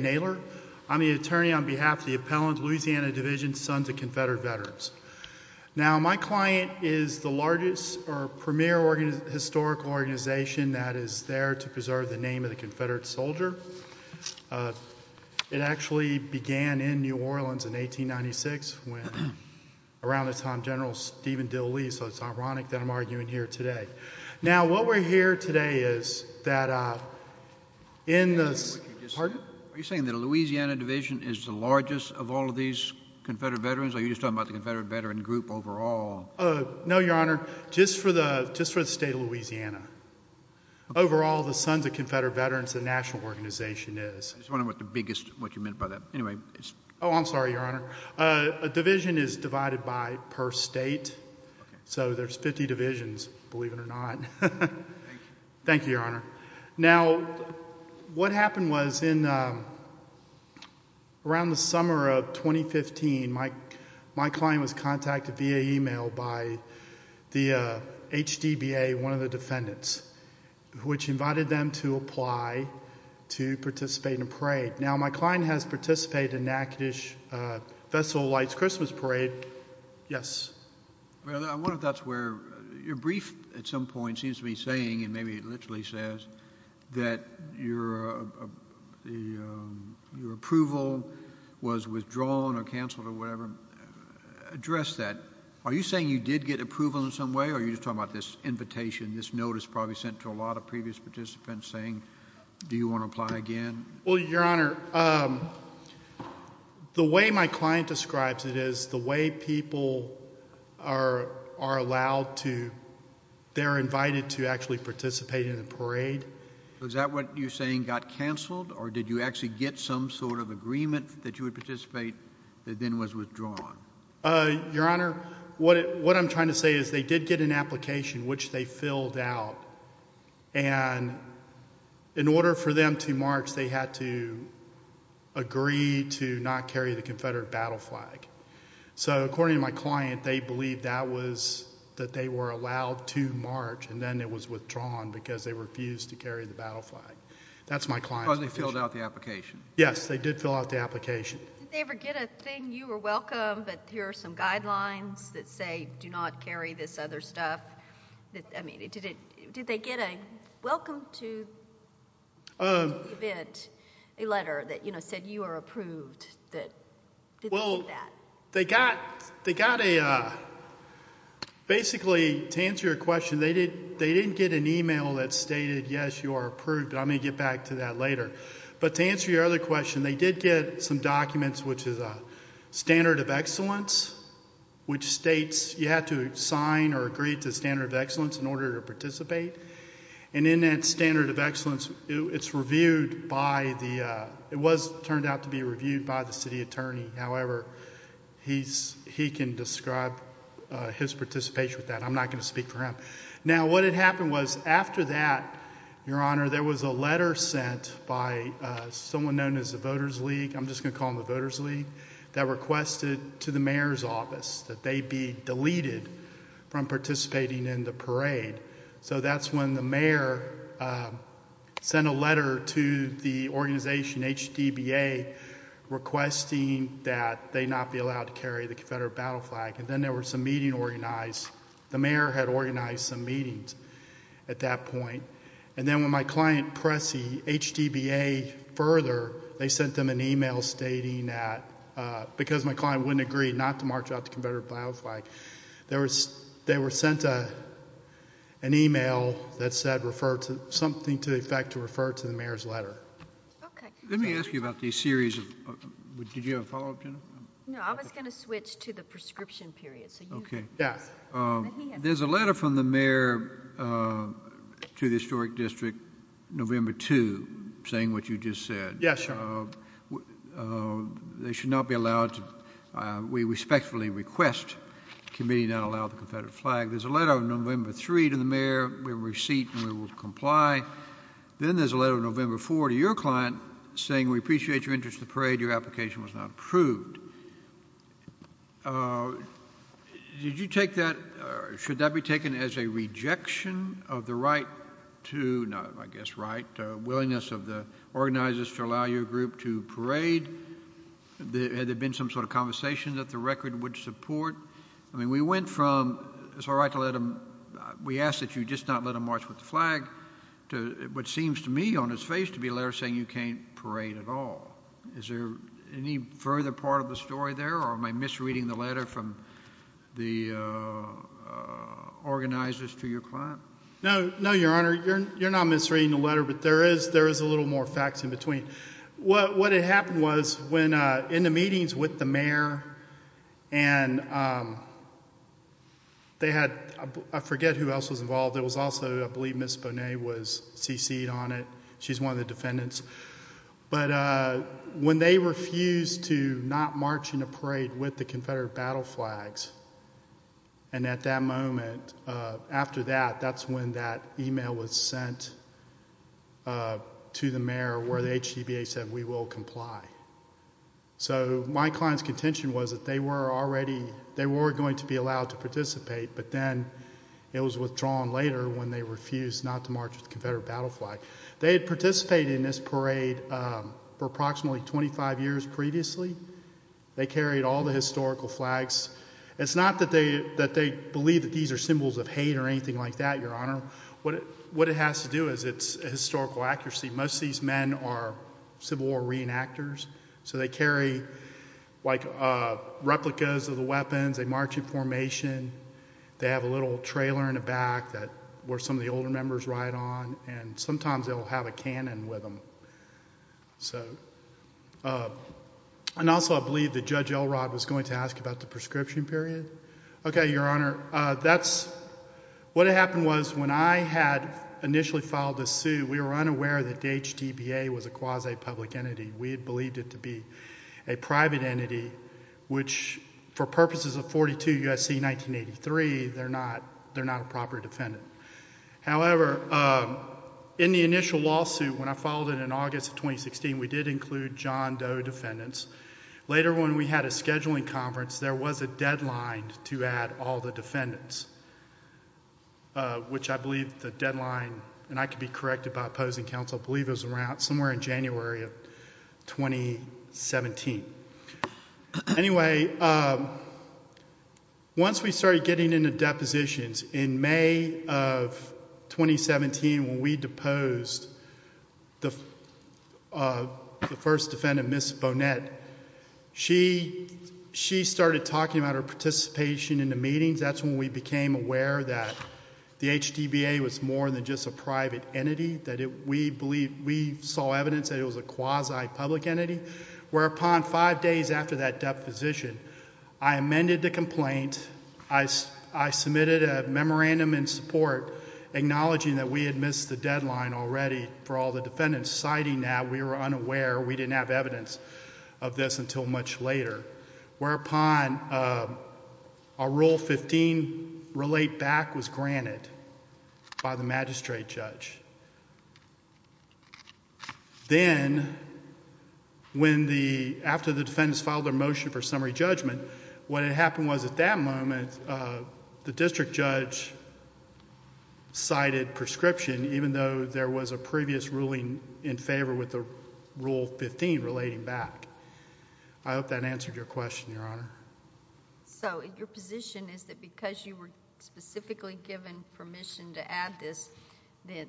Nailer. I'm the attorney on behalf of the appellant Louisiana Division Sons of Confrederate Veterans. It's a historical organization that is there to preserve the name of the Confederate soldier. It actually began in New Orleans in 1896 when around the time General Stephen Dill Lee, so it's ironic that I'm arguing here today. Now what we're here today is that in the Are you saying the Louisiana Division is the largest of all of these Confederate veterans or are you just talking about the Confederate veteran group overall? No, Your Honor. Just for the state of Louisiana. Overall, the Sons of Confederate Veterans, the national organization is. I was wondering what you meant by that. Oh, I'm sorry, Your Honor. A division is divided by per state. So there's 50 divisions, believe it or not. Thank you, Your Honor. Now what happened was in around the summer of 2015, my client was contacted via email by the HDBA, one of the defendants, which invited them to apply to participate in a parade. Now my client has participated in Natchitoches Festival of Lights Christmas Parade. Yes. I wonder if that's where your brief at some point seems to be saying and maybe it literally says that your approval was withdrawn or canceled or whatever. Address that. Are you saying you did get approval in some way or are you just talking about this invitation, this notice probably sent to a lot of previous participants saying do you want to apply again? Well, Your Honor, the way my client describes it is the way people are allowed to, they're invited to actually participate in a parade. Is that what you're saying got canceled or did you actually get some sort of agreement that you would participate that then was withdrawn? Your Honor, what I'm trying to say is they did get an application, which they filled out, and in order for them to march, they had to agree to not carry the Confederate battle flag. So according to my client, they believed that was, that they were allowed to march and then it was withdrawn because they refused to carry the battle flag. That's my client's position. Oh, they filled out the application? Yes, they did fill out the application. Did they ever get a thing, you are welcome, but here are some guidelines that say do not carry this other stuff? I mean, did they get a welcome to the event, a letter that said you are approved? Well, they got a, basically to answer your question, they didn't get an email that stated yes, you are approved, but I'm going to get back to that later. But to answer your other question, they did get some documents, which is a standard of excellence, which states you have to sign or agree to standard of excellence in order to participate. And in that standard of excellence, it's reviewed by the, it was turned out to be reviewed by the city attorney. However, he can describe his participation with that. I'm not going to speak for him. Now, what had happened was after that, your honor, there was a letter sent by someone known as the voters league, I'm just going to call them the voters league, that requested to the mayor's office that they be deleted from participating in the parade. So that's when the mayor sent a letter to the organization, HDBA, requesting that they not be allowed to carry the Confederate battle flag. And then there was a meeting organized, the mayor had organized some meetings at that point. And then when my client pressed the HDBA further, they sent them an email stating that, because my client wouldn't agree not to march out the Confederate battle flag, they were sent an email that said something to the effect to refer to the mayor's letter. Let me ask you about the series of, did you have a follow up, Jennifer? No, I was going to switch to the prescription period. Okay. Yes. There's a letter from the mayor to the historic district, November 2, saying what you just said. Yes, sir. They should not be allowed to, we respectfully request the committee not allow the Confederate flag. There's a letter on November 3 to the mayor, we have a receipt and we will comply. Then there's a letter on November 4 to your client saying we appreciate your interest in the parade. Your application was not approved. Did you take that, should that be taken as a rejection of the right to, I guess right, willingness of the organizers to allow your group to parade? Had there been some sort of conversation that the record would support? I mean, we went from, it's all right to let them, we ask that you just not let them march with the flag, to what seems to me on his face to be a letter saying you can't parade at all. Is there any further part of the story there or am I misreading the letter from the organizers to your client? No, your honor, you're not misreading the letter, but there is a little more facts in between. What had happened was when in the meetings with the mayor and they had, I forget who else was involved, there was also I believe Ms. Bonet was CC'd on it, she's one of the defendants. But when they refused to not march in a parade with the Confederate battle flags, and at that moment, after that, that's when that email was sent to the mayor where the HCBA said we will comply. So my client's contention was that they were already, they were going to be allowed to participate, but then it was withdrawn later when they refused not to march with the Confederate battle flag. They had participated in this parade for approximately 25 years previously. They carried all the historical flags. It's not that they believe that these are symbols of hate or anything like that, your honor. What it has to do is it's historical accuracy. Most of these men are Civil War reenactors, so they carry replicas of the weapons. They march in formation. They have a little trailer in the back that some of the older members ride on, and sometimes they'll have a cannon with them. So, and also I believe that Judge Elrod was going to ask about the prescription period. Okay, your honor, that's, what had happened was when I had initially filed this suit, we were unaware that the HCBA was a quasi-public entity. We had believed it to be a private entity, which for purposes of 42 U.S.C. 1983, they're not a proper defendant. However, in the initial lawsuit, when I filed it in August of 2016, we did include John Doe defendants. Later when we had a scheduling conference, there was a deadline to add all the defendants, which I believe the deadline, and I could be corrected by opposing counsel, I believe it was around, somewhere in January of 2017. Anyway, once we started getting into depositions, in May of 2017, when we deposed the first defendant, Miss Bonette, she started talking about her participation in the meetings. That's when we became aware that the HCBA was more than just a private entity, that we saw evidence that it was a quasi-public entity. Whereupon, five days after that deposition, I amended the complaint. I submitted a memorandum in support, acknowledging that we had missed the deadline already for all the defendants. Citing that, we were unaware, we didn't have evidence of this until much later. Whereupon, a Rule 15 relate back was granted by the magistrate judge. Then, after the defendants filed their motion for summary judgment, what had happened was, at that moment, the district judge cited prescription, even though there was a previous ruling in favor with the Rule 15 relating back. I hope that answered your question, Your Honor. Your position is that because you were specifically given permission to add this, it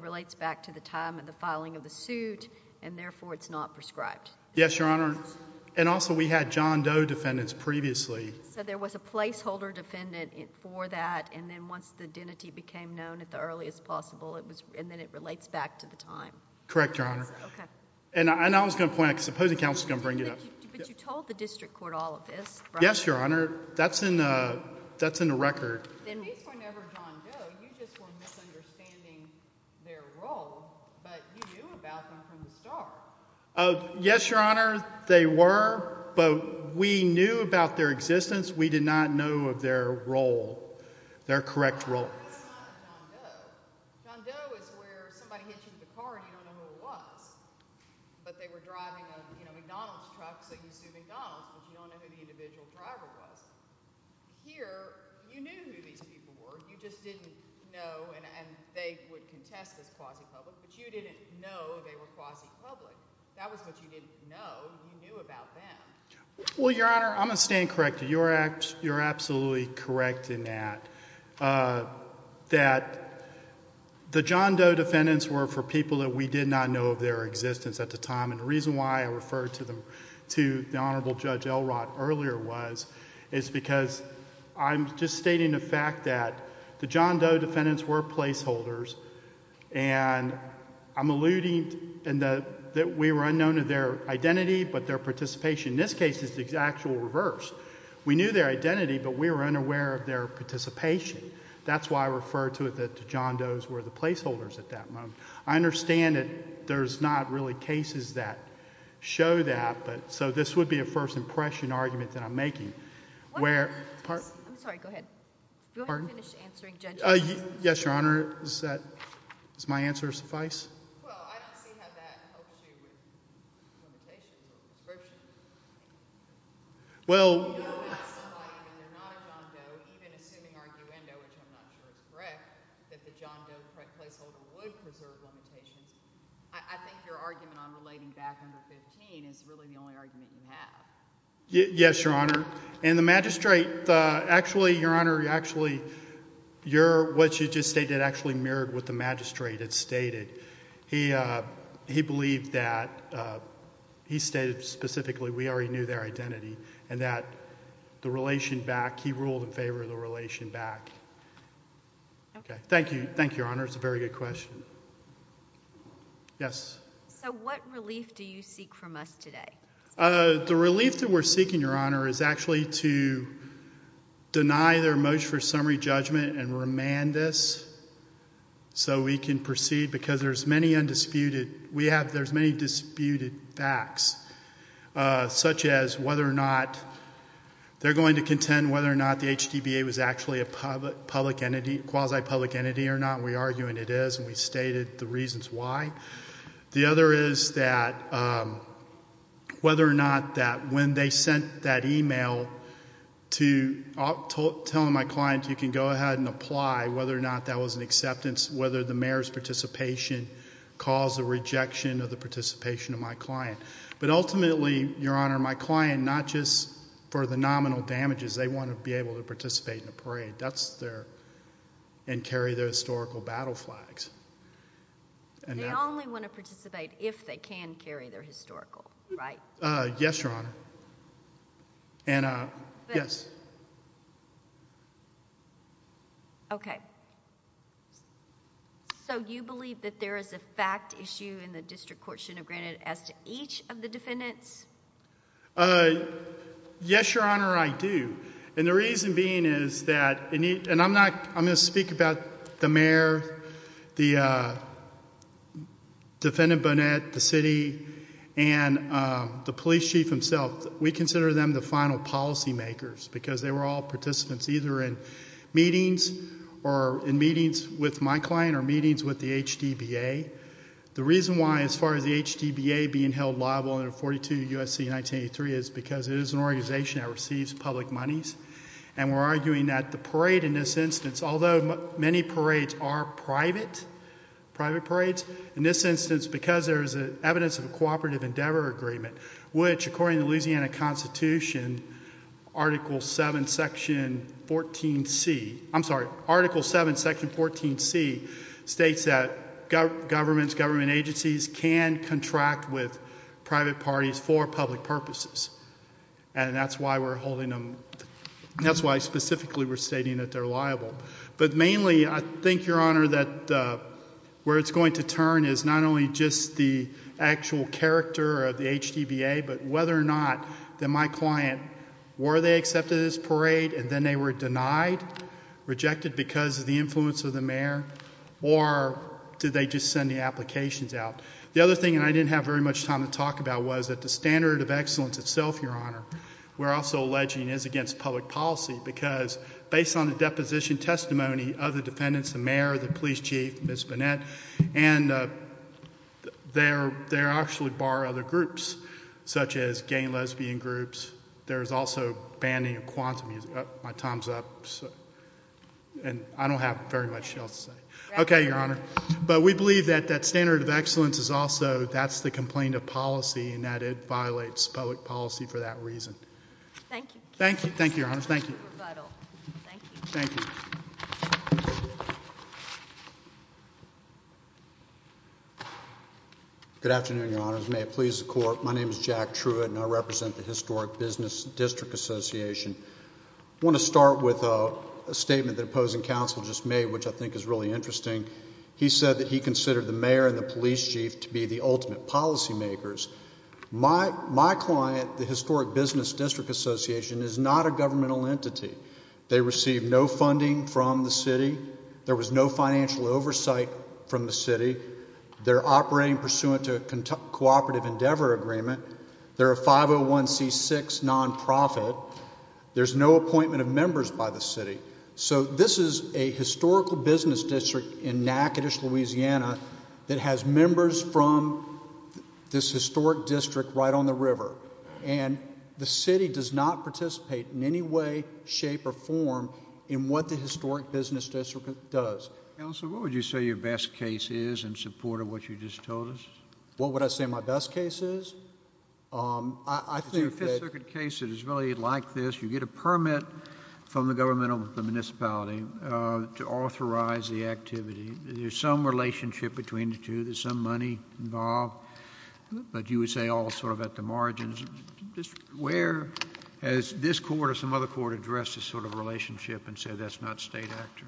relates back to the time of the filing of the suit, and therefore, it's not prescribed? Yes, Your Honor. Also, we had John Doe defendants previously. There was a placeholder defendant for that, and then once the identity became known at the earliest possible, then it relates back to the time? Correct, Your Honor. Okay. And I was going to point out, because the opposing counsel is going to bring it up. But you told the district court all of this, right? Yes, Your Honor. That's in the record. At least whenever John Doe, you just were misunderstanding their role, but you knew about them from the start. Yes, Your Honor, they were, but we knew about their existence. We did not know of their role, their correct role. We did not know of John Doe. John Doe is where somebody hits you with a car and you don't know who it was, but they were driving a McDonald's truck, so you assume McDonald's, but you don't know who the individual driver was. Here, you knew who these people were. You just didn't know, and they would contest as quasi-public, but you didn't know they were quasi-public. That was what you didn't know. You knew about them. Well, Your Honor, I'm going to stand corrected. You're absolutely correct in that, that the John Doe defendants were for people that we did not know of their existence at the time, and the reason why I referred to the Honorable Judge Elrott earlier was it's because I'm just stating the fact that the John Doe defendants were placeholders, and I'm alluding that we were unknown to their identity, but their participation in this case is the actual reverse. We knew their identity, but we were unaware of their participation. That's why I referred to it that the John Doe's were the placeholders at that moment. I understand that there's not really cases that show that, but so this would be a first impression argument that I'm making. Pardon? I'm sorry. Go ahead. Pardon? Go ahead and finish answering Judge Elrott. Yes, Your Honor. Does my answer suffice? Well, I don't see how that helps you with limitations or prescriptions. Well— You know that somebody, and they're not a John Doe, even assuming arguendo, which I'm not sure is correct, that the John Doe placeholder would preserve limitations. I think your argument on relating back number 15 is really the only argument you have. Yes, Your Honor, and the magistrate—actually, Your Honor, actually, what you just stated actually mirrored what the magistrate had stated. He believed that—he stated specifically we already knew their identity and that the relation back—he ruled in favor of the relation back. Okay. Thank you. Thank you, Your Honor. It's a very good question. Yes? So what relief do you seek from us today? The relief that we're seeking, Your Honor, is actually to deny their motion for summary judgment and remand this so we can proceed because there's many undisputed—we have— there's many disputed facts, such as whether or not they're going to contend whether or not the HDBA was actually a public entity, quasi-public entity or not. We argue, and it is, and we stated the reasons why. The other is that whether or not that when they sent that email to— whether or not that didn't apply, whether or not that was an acceptance, whether the mayor's participation caused a rejection of the participation of my client. But ultimately, Your Honor, my client, not just for the nominal damages, they want to be able to participate in a parade. That's their—and carry their historical battle flags. They only want to participate if they can carry their historical, right? Yes, Your Honor. And, yes. Okay. So you believe that there is a fact issue in the district court should have granted as to each of the defendants? Yes, Your Honor, I do. And the reason being is that—and I'm not—I'm going to speak about the mayor, the defendant, Bonet, the city, and the police chief himself. We consider them the final policymakers because they were all participants either in meetings or in meetings with my client or meetings with the HDBA. The reason why, as far as the HDBA being held liable under 42 U.S.C. 1983 is because it is an organization that receives public monies, and we're arguing that the parade in this instance, although many parades are private—private parades— in this instance, because there is evidence of a cooperative endeavor agreement, which, according to the Louisiana Constitution, Article 7, Section 14c— I'm sorry, Article 7, Section 14c states that governments, government agencies can contract with private parties for public purposes. And that's why we're holding them— that's why specifically we're stating that they're liable. But mainly, I think, Your Honor, that where it's going to turn is not only just the actual character of the HDBA, but whether or not that my client—were they accepted at this parade and then they were denied, rejected because of the influence of the mayor, or did they just send the applications out? The other thing, and I didn't have very much time to talk about, was that the standard of excellence itself, Your Honor, we're also alleging is against public policy because based on the deposition testimony of the defendants, the mayor, the police chief, Ms. Burnett, and they actually bar other groups such as gay and lesbian groups. There is also banning of quantum music. My time's up, and I don't have very much else to say. Okay, Your Honor. But we believe that that standard of excellence is also— Thank you. Thank you, Your Honor. Thank you. Thank you. Thank you. Good afternoon, Your Honors. May it please the Court. My name is Jack Truitt, and I represent the Historic Business District Association. I want to start with a statement that opposing counsel just made, which I think is really interesting. He said that he considered the mayor and the police chief to be the ultimate policy makers. My client, the Historic Business District Association, is not a governmental entity. They receive no funding from the city. There was no financial oversight from the city. They're operating pursuant to a cooperative endeavor agreement. They're a 501c6 nonprofit. There's no appointment of members by the city. So this is a historical business district in Natchitoches, Louisiana, that has members from this historic district right on the river, and the city does not participate in any way, shape, or form in what the historic business district does. Counsel, what would you say your best case is in support of what you just told us? What would I say my best case is? I think that— It's your Fifth Circuit case that is really like this. You get a permit from the government of the municipality to authorize the activity. There's some relationship between the two. There's some money involved, but you would say all sort of at the margins. Where has this court or some other court addressed this sort of relationship and said that's not state actor?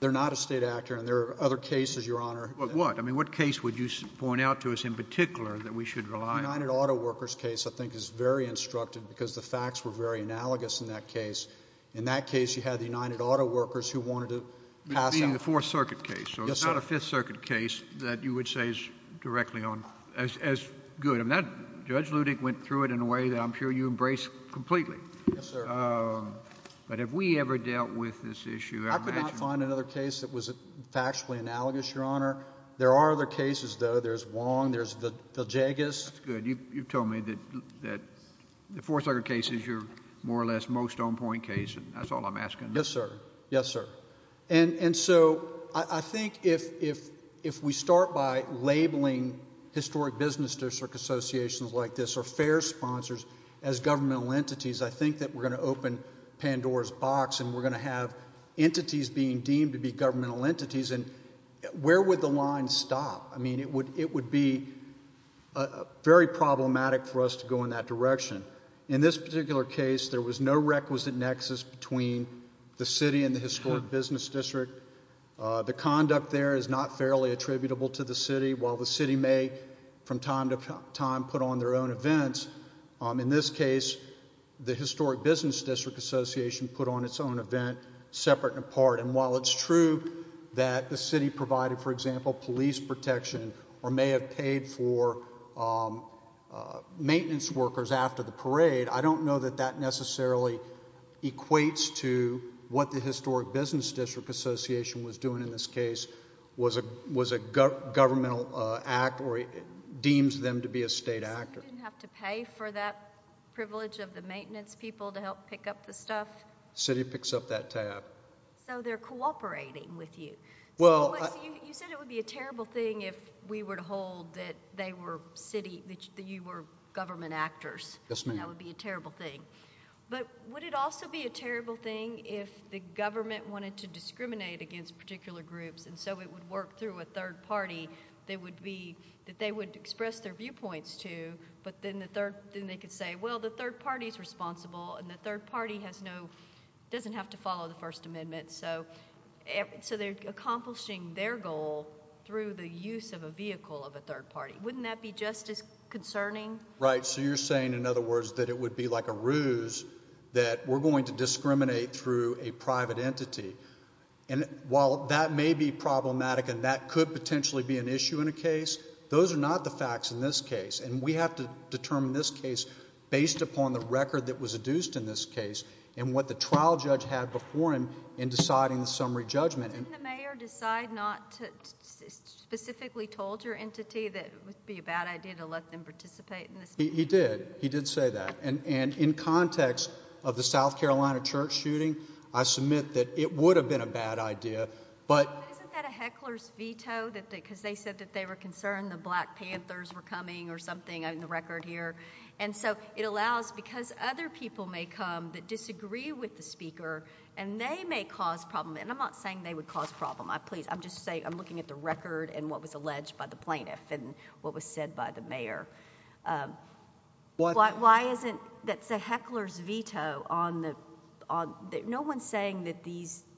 They're not a state actor, and there are other cases, Your Honor. What? I mean, what case would you point out to us in particular that we should rely on? The United Auto Workers case, I think, is very instructive because the facts were very analogous in that case. In that case, you had the United Auto Workers who wanted to pass out— That being the Fourth Circuit case. Yes, sir. So it's not a Fifth Circuit case that you would say is directly on—as good. Judge Ludek went through it in a way that I'm sure you embrace completely. Yes, sir. But have we ever dealt with this issue? I could not find another case that was factually analogous, Your Honor. There are other cases, though. There's Wong. There's Viljagas. That's good. You've told me that the Fourth Circuit case is your more or less most on-point case, and that's all I'm asking. Yes, sir. Yes, sir. And so I think if we start by labeling historic business district associations like this or fair sponsors as governmental entities, I think that we're going to open Pandora's box and we're going to have entities being deemed to be governmental entities, and where would the line stop? I mean, it would be very problematic for us to go in that direction. In this particular case, there was no requisite nexus between the city and the historic business district. The conduct there is not fairly attributable to the city. While the city may from time to time put on their own events, in this case the historic business district association put on its own event separate and apart. And while it's true that the city provided, for example, police protection or may have paid for maintenance workers after the parade, I don't know that that necessarily equates to what the historic business district association was doing in this case, was a governmental act or deems them to be a state actor. So you didn't have to pay for that privilege of the maintenance people to help pick up the stuff? The city picks up that tab. So they're cooperating with you. You said it would be a terrible thing if we were to hold that you were government actors. Yes, ma'am. That would be a terrible thing. But would it also be a terrible thing if the government wanted to discriminate against particular groups and so it would work through a third party that they would express their viewpoints to, but then they could say, well, the third party is responsible and the third party doesn't have to follow the First Amendment. So they're accomplishing their goal through the use of a vehicle of a third party. Wouldn't that be just as concerning? Right. So you're saying, in other words, that it would be like a ruse that we're going to discriminate through a private entity. And while that may be problematic and that could potentially be an issue in a case, those are not the facts in this case. And we have to determine this case based upon the record that was adduced in this case and what the trial judge had before him in deciding the summary judgment. Didn't the mayor decide not to specifically told your entity that it would be a bad idea to let them participate in this? He did. He did say that. And in context of the South Carolina church shooting, I submit that it would have been a bad idea. But isn't that a heckler's veto? Because they said that they were concerned the Black Panthers were coming or something on the record here. And so it allows, because other people may come that disagree with the speaker, and they may cause problems. And I'm not saying they would cause problems. Please, I'm just saying I'm looking at the record and what was alleged by the plaintiff and what was said by the mayor. Why isn't that a heckler's veto? No one is saying that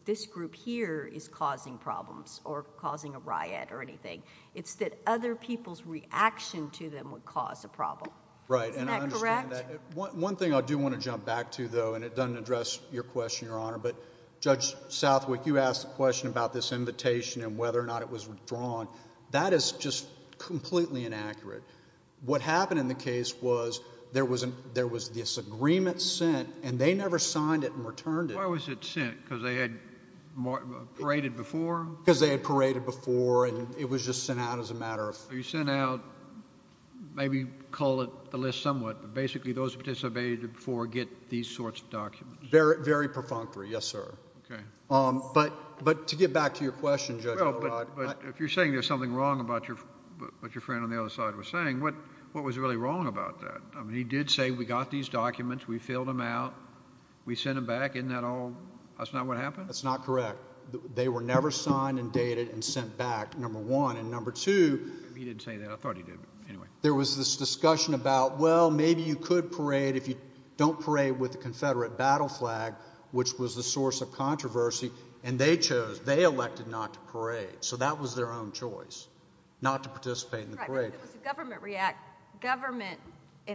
this group here is causing problems or causing a riot or anything. It's that other people's reaction to them would cause a problem. Right. Isn't that correct? And I understand that. One thing I do want to jump back to, though, and it doesn't address your question, Your Honor, but Judge Southwick, you asked a question about this invitation and whether or not it was withdrawn. That is just completely inaccurate. What happened in the case was there was this agreement sent, and they never signed it and returned it. Why was it sent? Because they had paraded before? Because they had paraded before, and it was just sent out as a matter of... You sent out, maybe call it the list somewhat, but basically those who participated before get these sorts of documents. Very perfunctory, yes, sir. Okay. But to get back to your question, Judge O'Rourke... Well, but if you're saying there's something wrong about what your friend on the other side was saying, what was really wrong about that? I mean, he did say we got these documents, we filled them out, we sent them back. Isn't that all? That's not what happened? That's not correct. They were never signed and dated and sent back, number one. And number two... He didn't say that. I thought he did. Anyway... There was this discussion about, well, maybe you could parade if you don't parade with the Confederate battle flag, which was the source of controversy, and they chose. They elected not to parade, so that was their own choice, not to participate in the parade. Right, but it was a government react. Government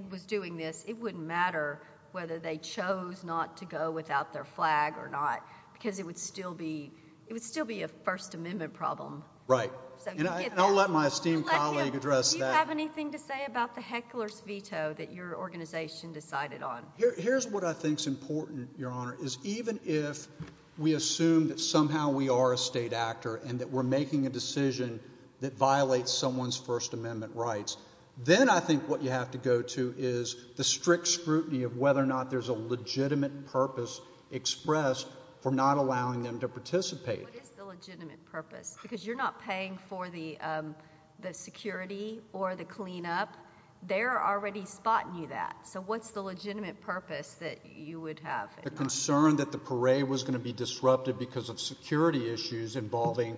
was doing this. It wouldn't matter whether they chose not to go without their flag or not because it would still be a First Amendment problem. Right. And I'll let my esteemed colleague address that. Do you have anything to say about the heckler's veto that your organization decided on? Here's what I think is important, Your Honor, is even if we assume that somehow we are a state actor and that we're making a decision that violates someone's First Amendment rights, then I think what you have to go to is the strict scrutiny of whether or not there's a legitimate purpose expressed for not allowing them to participate. What is the legitimate purpose? Because you're not paying for the security or the cleanup. They're already spotting you that. So what's the legitimate purpose that you would have? The concern that the parade was going to be disrupted because of security issues involving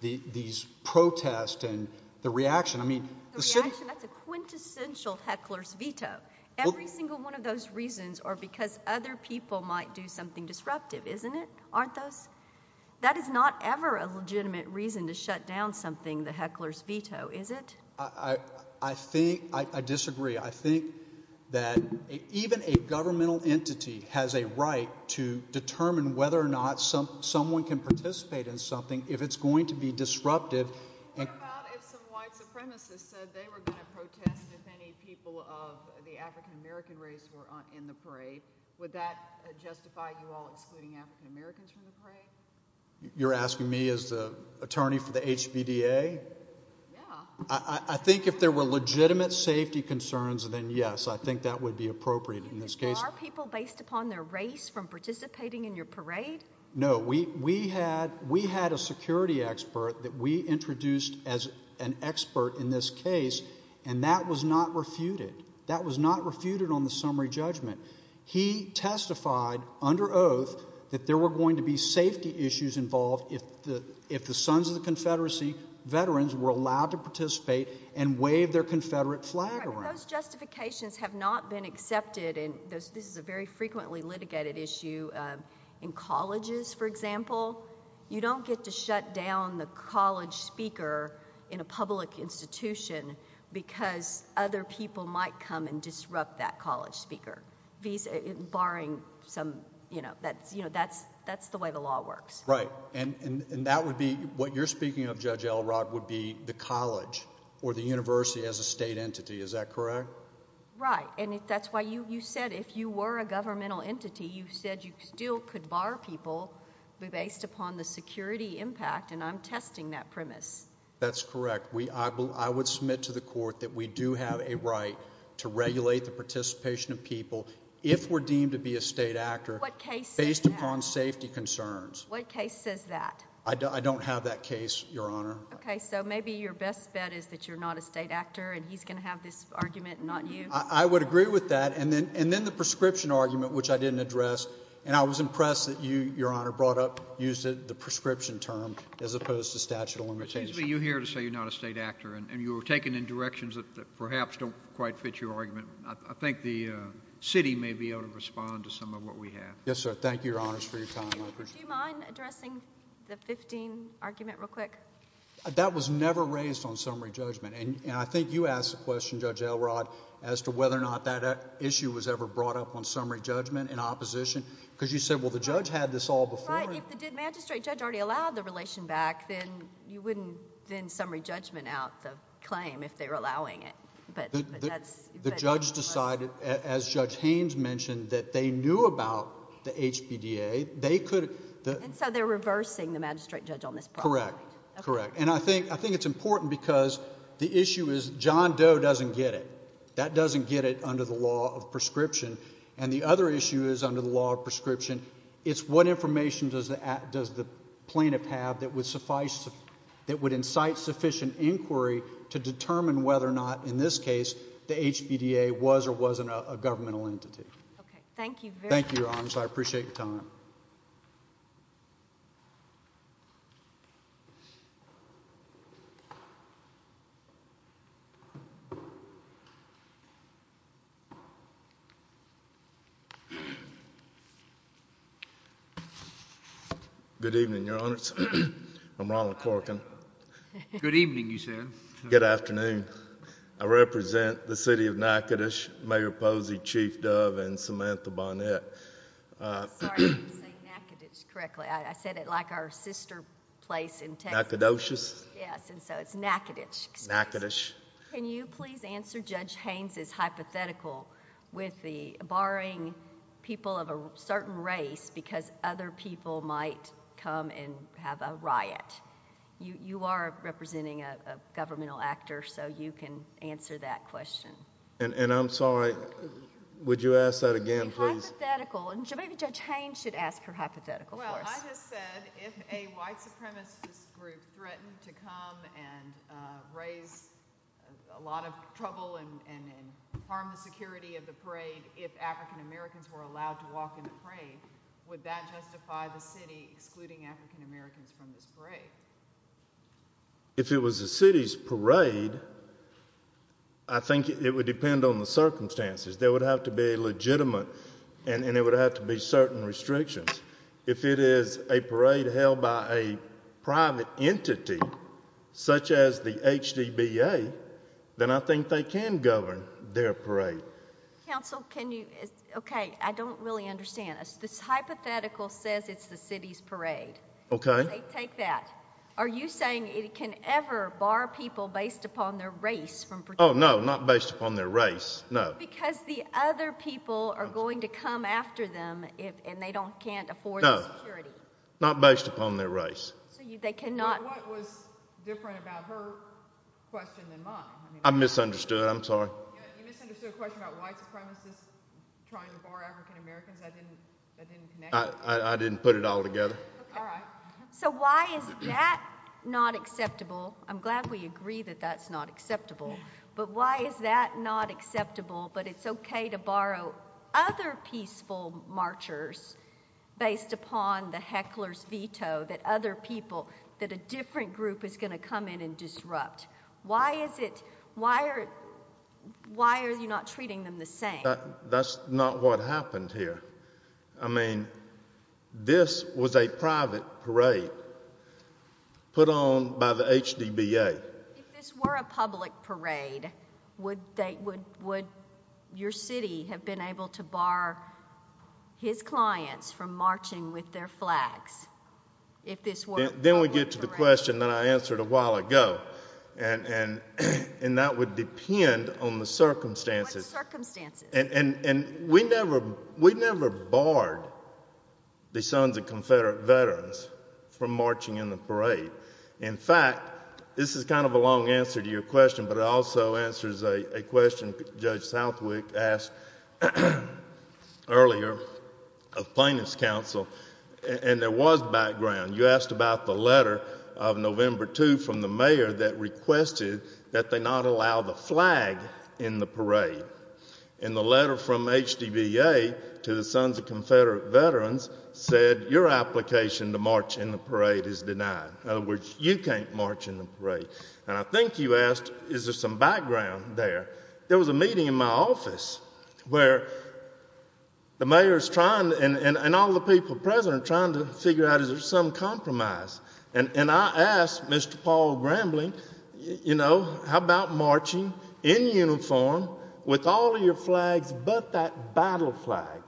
these protests and the reaction. The reaction? That's a quintessential heckler's veto. Every single one of those reasons are because other people might do something disruptive, isn't it? Aren't those? That is not ever a legitimate reason to shut down something, the heckler's veto, is it? I disagree. I think that even a governmental entity has a right to determine whether or not someone can participate in something if it's going to be disruptive. What about if some white supremacists said they were going to protest if any people of the African-American race were in the parade? Would that justify you all excluding African-Americans from the parade? You're asking me as the attorney for the HBDA? Yeah. I think if there were legitimate safety concerns, then yes, I think that would be appropriate in this case. Are people based upon their race from participating in your parade? No. We had a security expert that we introduced as an expert in this case, and that was not refuted. That was not refuted on the summary judgment. He testified under oath that there were going to be safety issues involved if the Sons of the Confederacy veterans were allowed to participate and wave their Confederate flag around. Those justifications have not been accepted. This is a very frequently litigated issue. In colleges, for example, you don't get to shut down the college speaker in a public institution because other people might come and disrupt that college speaker. That's the way the law works. Right. What you're speaking of, Judge Elrod, would be the college or the university as a state entity. Is that correct? Right. That's why you said if you were a governmental entity, you said you still could bar people based upon the security impact, and I'm testing that premise. That's correct. I would submit to the court that we do have a right to regulate the participation of people if we're deemed to be a state actor based upon safety concerns. What case says that? I don't have that case, Your Honor. Okay. So maybe your best bet is that you're not a state actor and he's going to have this argument and not you. I would agree with that. And then the prescription argument, which I didn't address, and I was impressed that you, Your Honor, brought up, used the prescription term as opposed to statute of limitations. Excuse me. You're here to say you're not a state actor, and you were taken in directions that perhaps don't quite fit your argument. I think the city may be able to respond to some of what we have. Yes, sir. Thank you, Your Honors, for your time. Do you mind addressing the 15 argument real quick? That was never raised on summary judgment. And I think you asked a question, Judge Elrod, as to whether or not that issue was ever brought up on summary judgment in opposition because you said, well, the judge had this all before. Right. If the magistrate judge already allowed the relation back, then you wouldn't send summary judgment out the claim if they were allowing it. The judge decided, as Judge Haynes mentioned, that they knew about the HPDA. And so they're reversing the magistrate judge on this problem. Correct. Correct. And I think it's important because the issue is John Doe doesn't get it. That doesn't get it under the law of prescription. And the other issue is under the law of prescription, it's what information does the plaintiff have that would incite sufficient inquiry to determine whether or not, in this case, the HPDA was or wasn't a governmental entity. Okay. Thank you very much. Thank you, Your Honors. I appreciate your time. Good evening, Your Honors. I'm Ronald Corcoran. Good evening, you said. Good afternoon. I represent the city of Natchitoches, Mayor Posey, Chief Dove, and Samantha Barnett. I'm sorry. I didn't say Natchitoches correctly. I said it like our sister place in Texas. Natchitoches? Yes. And so it's Natchitoches, excuse me. Natchitoches. Can you please answer Judge Haynes' hypothetical with the HBDA? Well, I just said if a white supremacist group threatened to come and raise a lot of trouble and harm the security of the parade if African-Americans were allowed to walk in the parade, would that justify the city excluding African-Americans from this parade? If it was the city's parade, I think it would depend on the circumstances. There would have to be a legitimate and there would have to be certain restrictions. If it is a parade held by a private entity, such as the HBDA, then I think they can govern their parade. Counsel, can you, okay, I don't really understand. This hypothetical says it's the city's parade. Okay. Take that. Are you saying it can ever bar people based upon their race? Oh, no, not based upon their race, no. Oh, because the other people are going to come after them and they can't afford the security. No, not based upon their race. So they cannot. What was different about her question than mine? I misunderstood, I'm sorry. You misunderstood a question about white supremacists trying to bar African-Americans. I didn't connect it. I didn't put it all together. Okay, all right. So why is that not acceptable? I'm glad we agree that that's not acceptable, but why is that not acceptable, but it's okay to borrow other peaceful marchers based upon the heckler's veto that other people, that a different group is going to come in and disrupt? Why is it, why are you not treating them the same? That's not what happened here. I mean, this was a private parade put on by the HDBA. If this were a public parade, would your city have been able to bar his clients from marching with their flags if this were a public parade? Then we get to the question that I answered a while ago, and that would depend on the circumstances. What circumstances? We never barred the Sons of Confederate Veterans from marching in the parade. In fact, this is kind of a long answer to your question, but it also answers a question Judge Southwick asked earlier of plaintiff's counsel, and there was background. You asked about the letter of November 2 from the mayor that requested that they not allow the flag in the parade, and the letter from HDBA to the Sons of Confederate Veterans said your application to march in the parade is denied. In other words, you can't march in the parade. And I think you asked is there some background there. There was a meeting in my office where the mayor is trying, and all the people present are trying to figure out is there some compromise, and I asked Mr. Paul Grambling, you know, how about marching in uniform with all your flags but that battle flag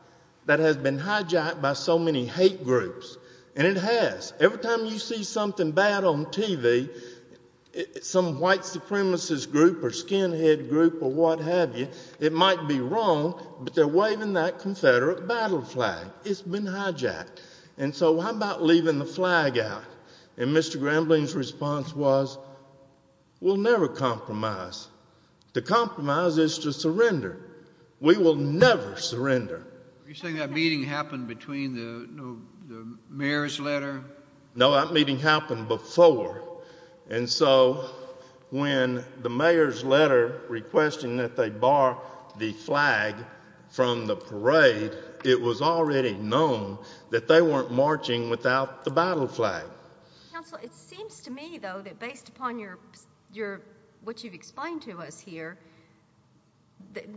that has been hijacked by so many hate groups? And it has. Every time you see something bad on TV, some white supremacist group or skinhead group or what have you, it might be wrong, but they're waving that Confederate battle flag. It's been hijacked. And so how about leaving the flag out? And Mr. Grambling's response was we'll never compromise. To compromise is to surrender. We will never surrender. You're saying that meeting happened between the mayor's letter? No, that meeting happened before. And so when the mayor's letter requesting that they bar the flag from the parade, it was already known that they weren't marching without the battle flag. Counsel, it seems to me, though, that based upon what you've explained to us here,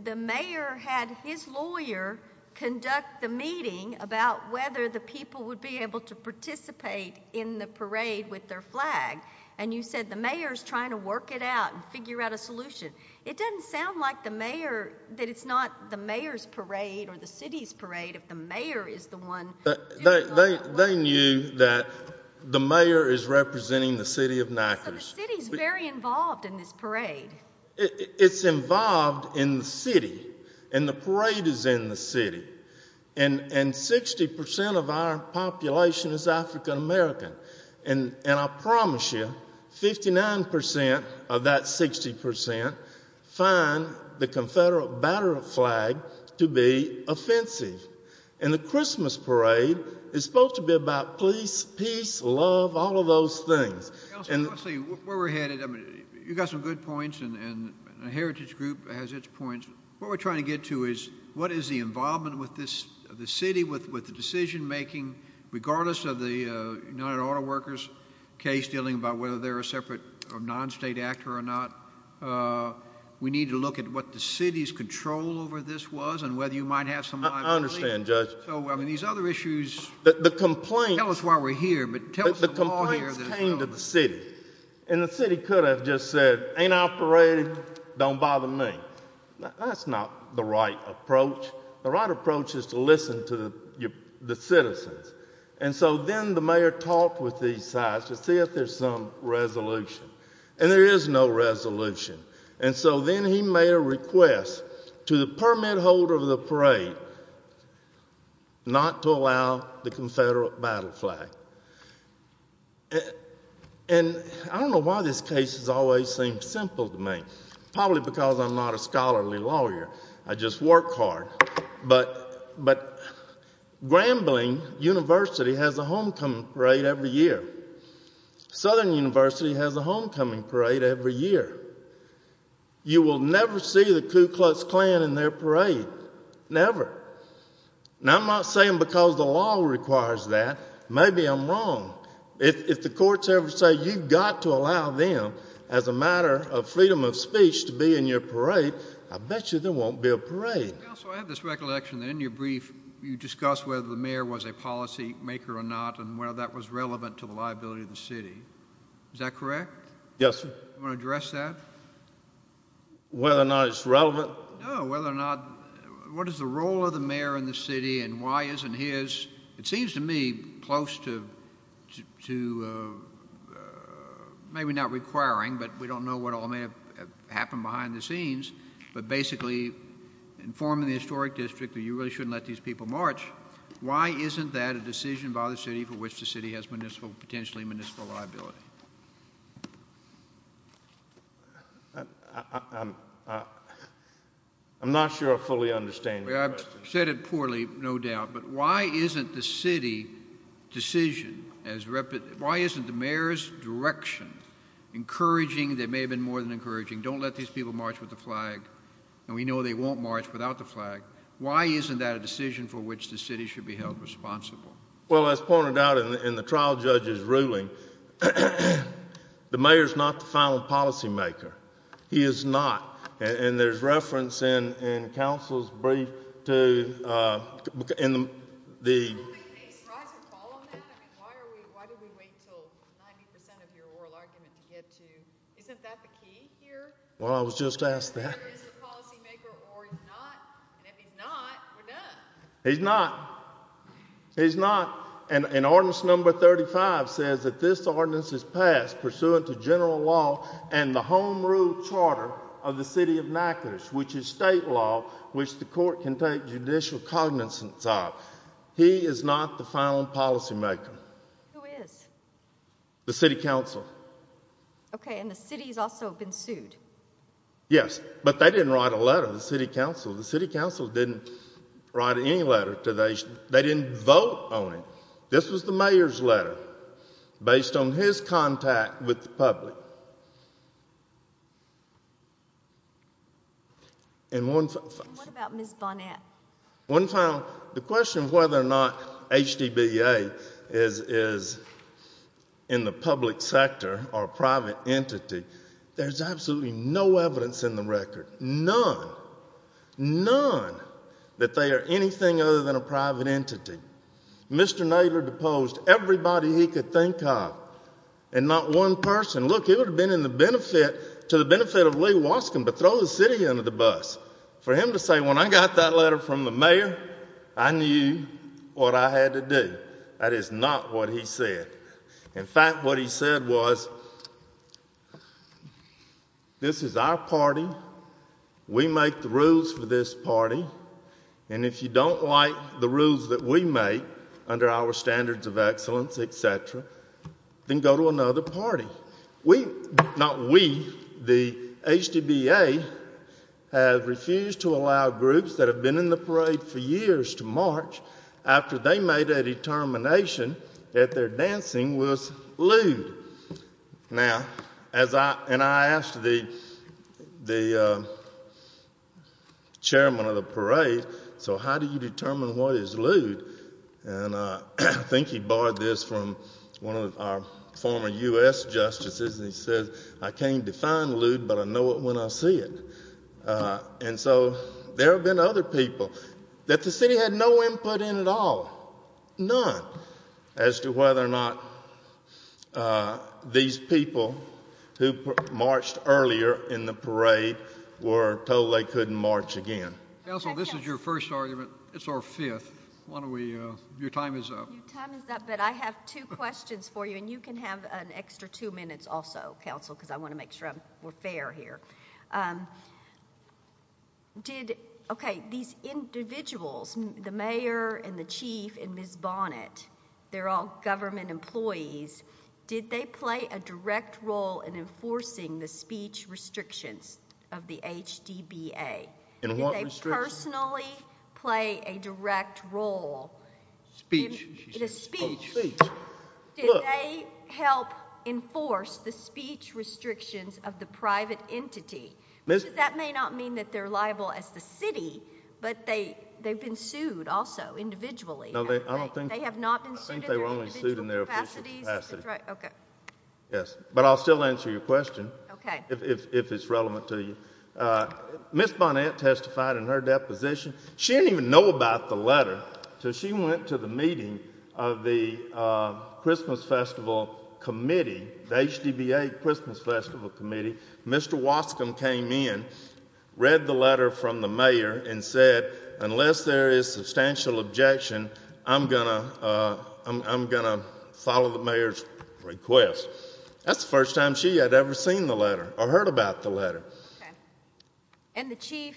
the mayor had his lawyer conduct the meeting about whether the people would be able to participate in the parade with their flag, and you said the mayor's trying to work it out and figure out a solution. It doesn't sound like the mayor, that it's not the mayor's parade or the city's parade if the mayor is the one. They knew that the mayor is representing the city of Niagara. So the city's very involved in this parade. It's involved in the city, and the parade is in the city. And 60% of our population is African American. And I promise you 59% of that 60% find the Confederate battle flag to be offensive. And the Christmas parade is supposed to be about peace, love, all of those things. Counsel, where we're headed, you've got some good points, and the Heritage Group has its points. What we're trying to get to is what is the involvement with the city, with the decision-making, regardless of the United Auto Workers case dealing about whether they're a separate or non-state actor or not. We need to look at what the city's control over this was and whether you might have some liability. I understand, Judge. So, I mean, these other issues tell us why we're here, but tell us the law here. The complaints came to the city, and the city could have just said, ain't operating, don't bother me. That's not the right approach. The right approach is to listen to the citizens. And so then the mayor talked with these sites to see if there's some resolution. And there is no resolution. And so then he made a request to the permit holder of the parade not to allow the Confederate battle flag. And I don't know why this case has always seemed simple to me, probably because I'm not a scholarly lawyer. I just work hard. But Grambling University has a homecoming parade every year. Southern University has a homecoming parade every year. You will never see the Ku Klux Klan in their parade, never. Now, I'm not saying because the law requires that. Maybe I'm wrong. If the courts ever say you've got to allow them, as a matter of freedom of speech, to be in your parade, I bet you there won't be a parade. Counsel, I have this recollection that in your brief you discussed whether the mayor was a policymaker or not and whether that was relevant to the liability of the city. Is that correct? Yes, sir. Do you want to address that? Whether or not it's relevant? No, whether or not what is the role of the mayor in the city and why isn't his, it seems to me, close to maybe not requiring, but we don't know what all may have happened behind the scenes, but basically informing the historic district that you really shouldn't let these people march, why isn't that a decision by the city for which the city has potentially municipal liability? I'm not sure I fully understand your question. I've said it poorly, no doubt, but why isn't the city decision, why isn't the mayor's direction encouraging, that may have been more than encouraging, don't let these people march with the flag, and we know they won't march without the flag, why isn't that a decision for which the city should be held responsible? Well, as pointed out in the trial judge's ruling, the mayor's not the final policymaker. He is not, and there's reference in counsel's brief to, in the Why do we wait until 90% of your oral argument to get to, isn't that the key here? Well, I was just asked that. Whether he's the policymaker or not, and if he's not, we're done. He's not. He's not. And ordinance number 35 says that this ordinance is passed pursuant to general law and the home rule charter of the city of Natchitoches, which is state law, which the court can take judicial cognizance of. He is not the final policymaker. Who is? The city council. Okay, and the city's also been sued. Yes, but they didn't write a letter to the city council. The city council didn't write any letter. They didn't vote on it. This was the mayor's letter based on his contact with the public. What about Ms. Bonet? The question of whether or not HDBA is in the public sector or private entity, there's absolutely no evidence in the record, none. None that they are anything other than a private entity. Mr. Nadler deposed everybody he could think of and not one person. Look, it would have been to the benefit of Lee Waskin, but throw the city under the bus. For him to say, when I got that letter from the mayor, I knew what I had to do. That is not what he said. In fact, what he said was, this is our party, we make the rules for this party, and if you don't like the rules that we make under our standards of excellence, et cetera, then go to another party. Not we, the HDBA has refused to allow groups that have been in the parade for years to march after they made a determination that their dancing was lewd. Now, and I asked the chairman of the parade, so how do you determine what is lewd? And I think he borrowed this from one of our former U.S. justices, and he said, I can't define lewd, but I know it when I see it. And so there have been other people that the city had no input in at all, none, as to whether or not these people who marched earlier in the parade were told they couldn't march again. Counsel, this is your first argument. It's our fifth. Why don't we, your time is up. Your time is up, but I have two questions for you, and you can have an extra two minutes also, Counsel, because I want to make sure we're fair here. Did, okay, these individuals, the mayor and the chief and Ms. Bonnet, they're all government employees. Did they play a direct role in enforcing the speech restrictions of the HDBA? Did they personally play a direct role? Speech. In a speech. Speech. Did they help enforce the speech restrictions of the private entity? That may not mean that they're liable as the city, but they've been sued also individually. No, they have not been sued in their individual capacities. Okay. Yes, but I'll still answer your question if it's relevant to you. Ms. Bonnet testified in her deposition. She didn't even know about the letter, so she went to the meeting of the Christmas Festival Committee, the HDBA Christmas Festival Committee. Mr. Wascomb came in, read the letter from the mayor, and said, unless there is substantial objection, I'm going to follow the mayor's request. That's the first time she had ever seen the letter or heard about the letter. Okay. And the chief?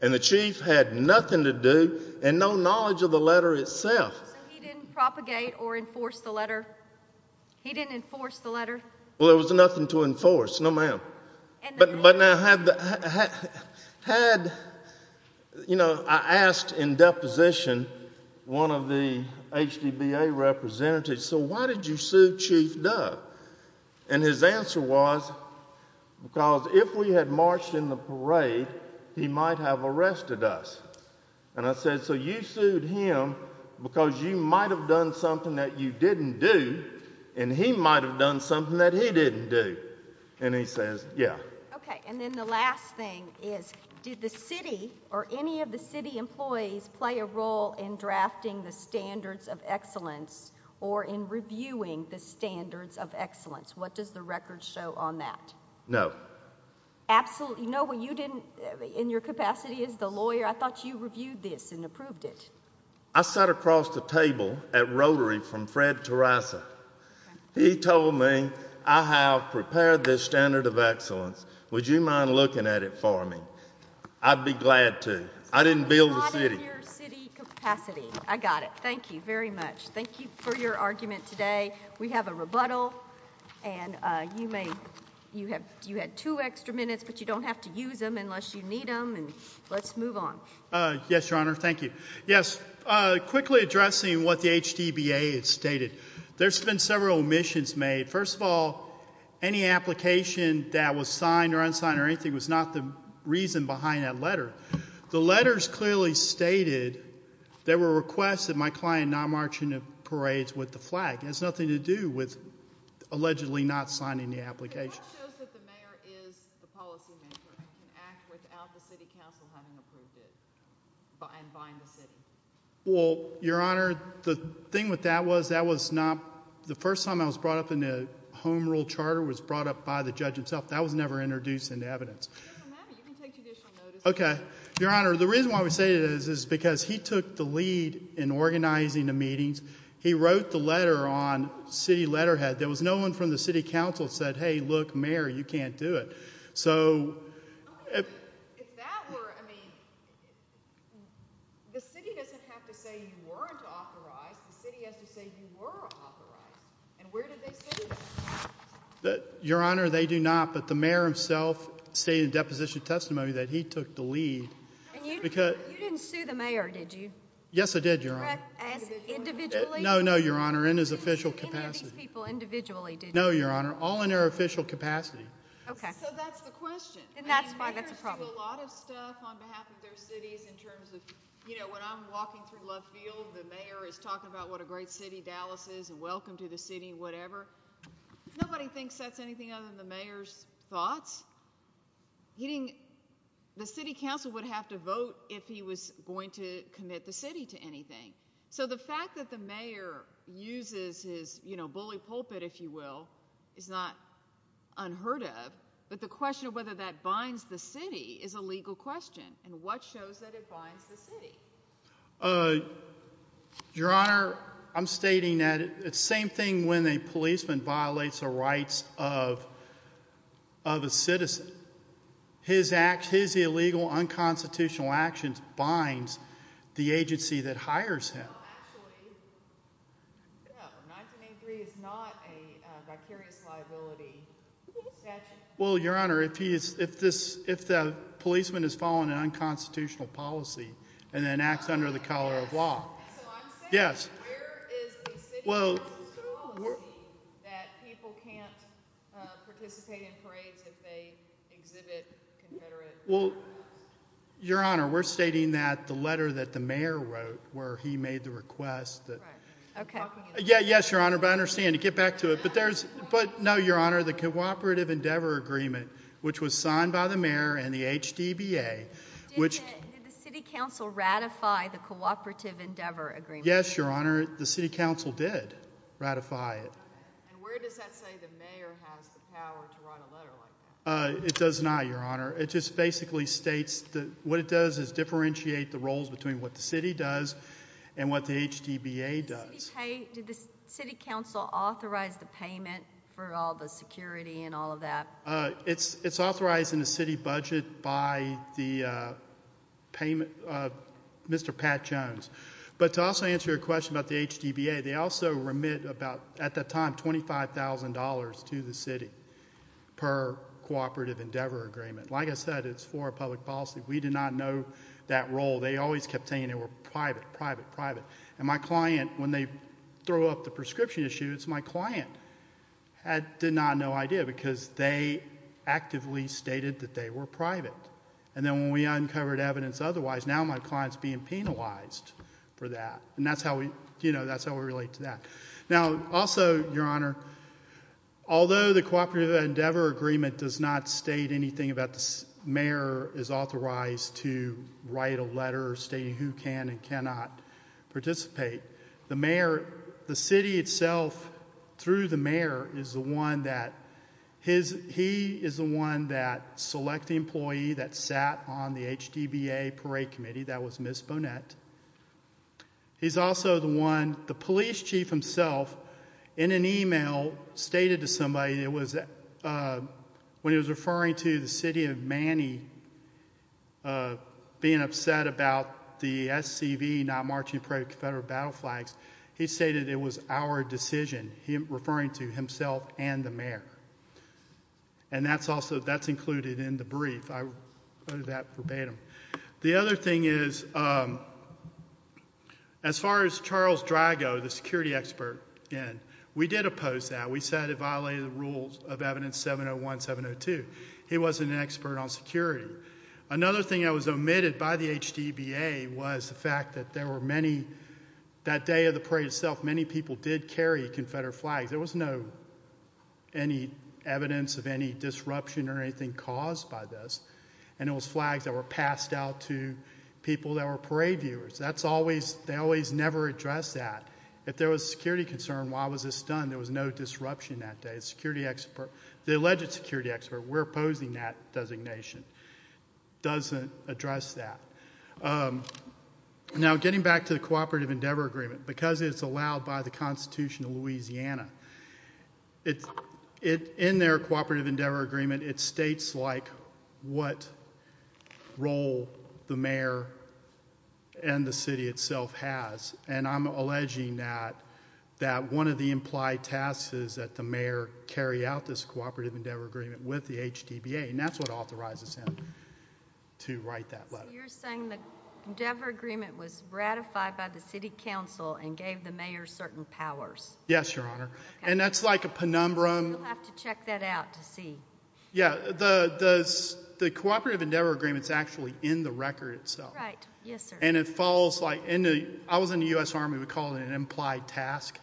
And the chief had nothing to do and no knowledge of the letter itself. So he didn't propagate or enforce the letter? He didn't enforce the letter? Well, there was nothing to enforce. No, ma'am. But now, had, you know, I asked in deposition one of the HDBA representatives, so why did you sue Chief Duck? And his answer was, because if we had marched in the parade, he might have arrested us. And I said, so you sued him because you might have done something that you didn't do, and he might have done something that he didn't do. And he says, yeah. Okay. And then the last thing is, did the city or any of the city employees play a role in drafting the standards of excellence or in reviewing the standards of excellence? What does the record show on that? No. Absolutely. No, but you didn't, in your capacity as the lawyer, I thought you reviewed this and approved it. I sat across the table at Rotary from Fred Terrassa. He told me, I have prepared this standard of excellence. Would you mind looking at it for me? I'd be glad to. I didn't build the city. A lot in your city capacity. I got it. Thank you very much. Thank you for your argument today. We have a rebuttal, and you may, you had two extra minutes, but you don't have to use them unless you need them, and let's move on. Yes, Your Honor. Thank you. Yes, quickly addressing what the HDBA has stated. There's been several omissions made. First of all, any application that was signed or unsigned or anything was not the reason behind that letter. The letters clearly stated there were requests that my client not march into parades with the flag. It has nothing to do with allegedly not signing the application. The letter shows that the mayor is the policymaker and can act without the city council having approved it and buying the city. Well, Your Honor, the thing with that was that was not, the first time I was brought up in a home rule charter was brought up by the judge himself. That was never introduced into evidence. It doesn't matter. You can take judicial notice. Okay. Your Honor, the reason why we say this is because he took the lead in organizing the meetings. He wrote the letter on city letterhead. There was no one from the city council that said, hey, look, mayor, you can't do it. So if that were, I mean, the city doesn't have to say you weren't authorized. The city has to say you were authorized, and where did they say that? Your Honor, they do not, but the mayor himself stated in deposition testimony that he took the lead. You didn't sue the mayor, did you? Yes, I did, Your Honor. Individually? No, no, Your Honor, in his official capacity. Any of these people individually did you sue? No, Your Honor, all in their official capacity. Okay. So that's the question. And that's why that's a problem. I mean, mayors do a lot of stuff on behalf of their cities in terms of, you know, when I'm walking through Love Field, the mayor is talking about what a great city Dallas is and welcome to the city, whatever. Nobody thinks that's anything other than the mayor's thoughts. The city council would have to vote if he was going to commit the city to anything. So the fact that the mayor uses his, you know, bully pulpit, if you will, is not unheard of. But the question of whether that binds the city is a legal question. And what shows that it binds the city? Your Honor, I'm stating that it's the same thing when a policeman violates the rights of a citizen. His illegal unconstitutional actions binds the agency that hires him. Well, actually, 1983 is not a vicarious liability statute. Well, Your Honor, if the policeman is following an unconstitutional policy and then acts under the collar of law. So I'm saying where is the city council policy that people can't participate in parades if they exhibit confederate values? Well, Your Honor, we're stating that the letter that the mayor wrote where he made the request. Yes, Your Honor, but I understand. Get back to it. But no, Your Honor, the Cooperative Endeavor Agreement, which was signed by the mayor and the HDBA. Did the city council ratify the Cooperative Endeavor Agreement? Yes, Your Honor, the city council did ratify it. And where does that say the mayor has the power to write a letter like that? It does not, Your Honor. It just basically states that what it does is differentiate the roles between what the city does and what the HDBA does. Did the city council authorize the payment for all the security and all of that? It's authorized in the city budget by the payment of Mr. Pat Jones. But to also answer your question about the HDBA, they also remit about, at that time, $25,000 to the city per Cooperative Endeavor Agreement. Like I said, it's for a public policy. We did not know that role. And my client, when they throw up the prescription issue, it's my client. They had no idea because they actively stated that they were private. And then when we uncovered evidence otherwise, now my client is being penalized for that. And that's how we relate to that. Now, also, Your Honor, although the Cooperative Endeavor Agreement does not state anything about the mayor is authorized to write a letter stating who can and cannot participate, the mayor, the city itself, through the mayor, is the one that he is the one that select the employee that sat on the HDBA Parade Committee. That was Ms. Bonette. He's also the one, the police chief himself, in an email, stated to somebody, when he was referring to the city of Manny being upset about the SCV not marching in front of Confederate battle flags, he stated it was our decision, referring to himself and the mayor. And that's included in the brief. I wrote that verbatim. The other thing is, as far as Charles Drago, the security expert, we did oppose that. We said it violated the rules of Evidence 701 and 702. He wasn't an expert on security. Another thing that was omitted by the HDBA was the fact that there were many, that day of the parade itself, many people did carry Confederate flags. There was no evidence of any disruption or anything caused by this. And it was flags that were passed out to people that were parade viewers. That's always, they always never address that. If there was security concern, why was this done? There was no disruption that day. The security expert, the alleged security expert, we're opposing that designation, doesn't address that. Now, getting back to the Cooperative Endeavor Agreement, because it's allowed by the Constitution of Louisiana, in their Cooperative Endeavor Agreement, it states what role the mayor and the city itself has. And I'm alleging that one of the implied tasks is that the mayor carry out this Cooperative Endeavor Agreement with the HDBA. And that's what authorizes him to write that letter. So you're saying the Endeavor Agreement was ratified by the city council and gave the mayor certain powers. Yes, Your Honor. And that's like a penumbrum. We'll have to check that out to see. Yeah. The Cooperative Endeavor Agreement is actually in the record itself. Right. Yes, sir. And it falls like, I was in the U.S. Army, we call it an implied task.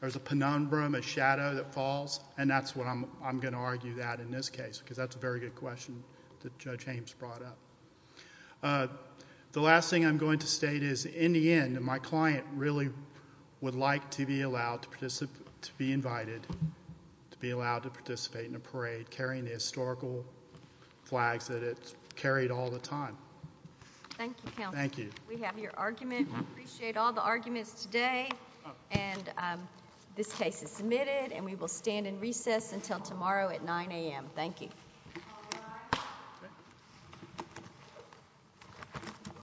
There's a penumbrum, a shadow that falls, and that's what I'm going to argue that in this case, because that's a very good question that Judge Hames brought up. The last thing I'm going to state is, in the end, my client really would like to be allowed to participate, to be invited to be allowed to participate in a parade carrying the historical flags that it's carried all the time. Thank you, counsel. Thank you. We have your argument. We appreciate all the arguments today. And this case is submitted, and we will stand in recess until tomorrow at 9 a.m. Thank you. All rise. Okay.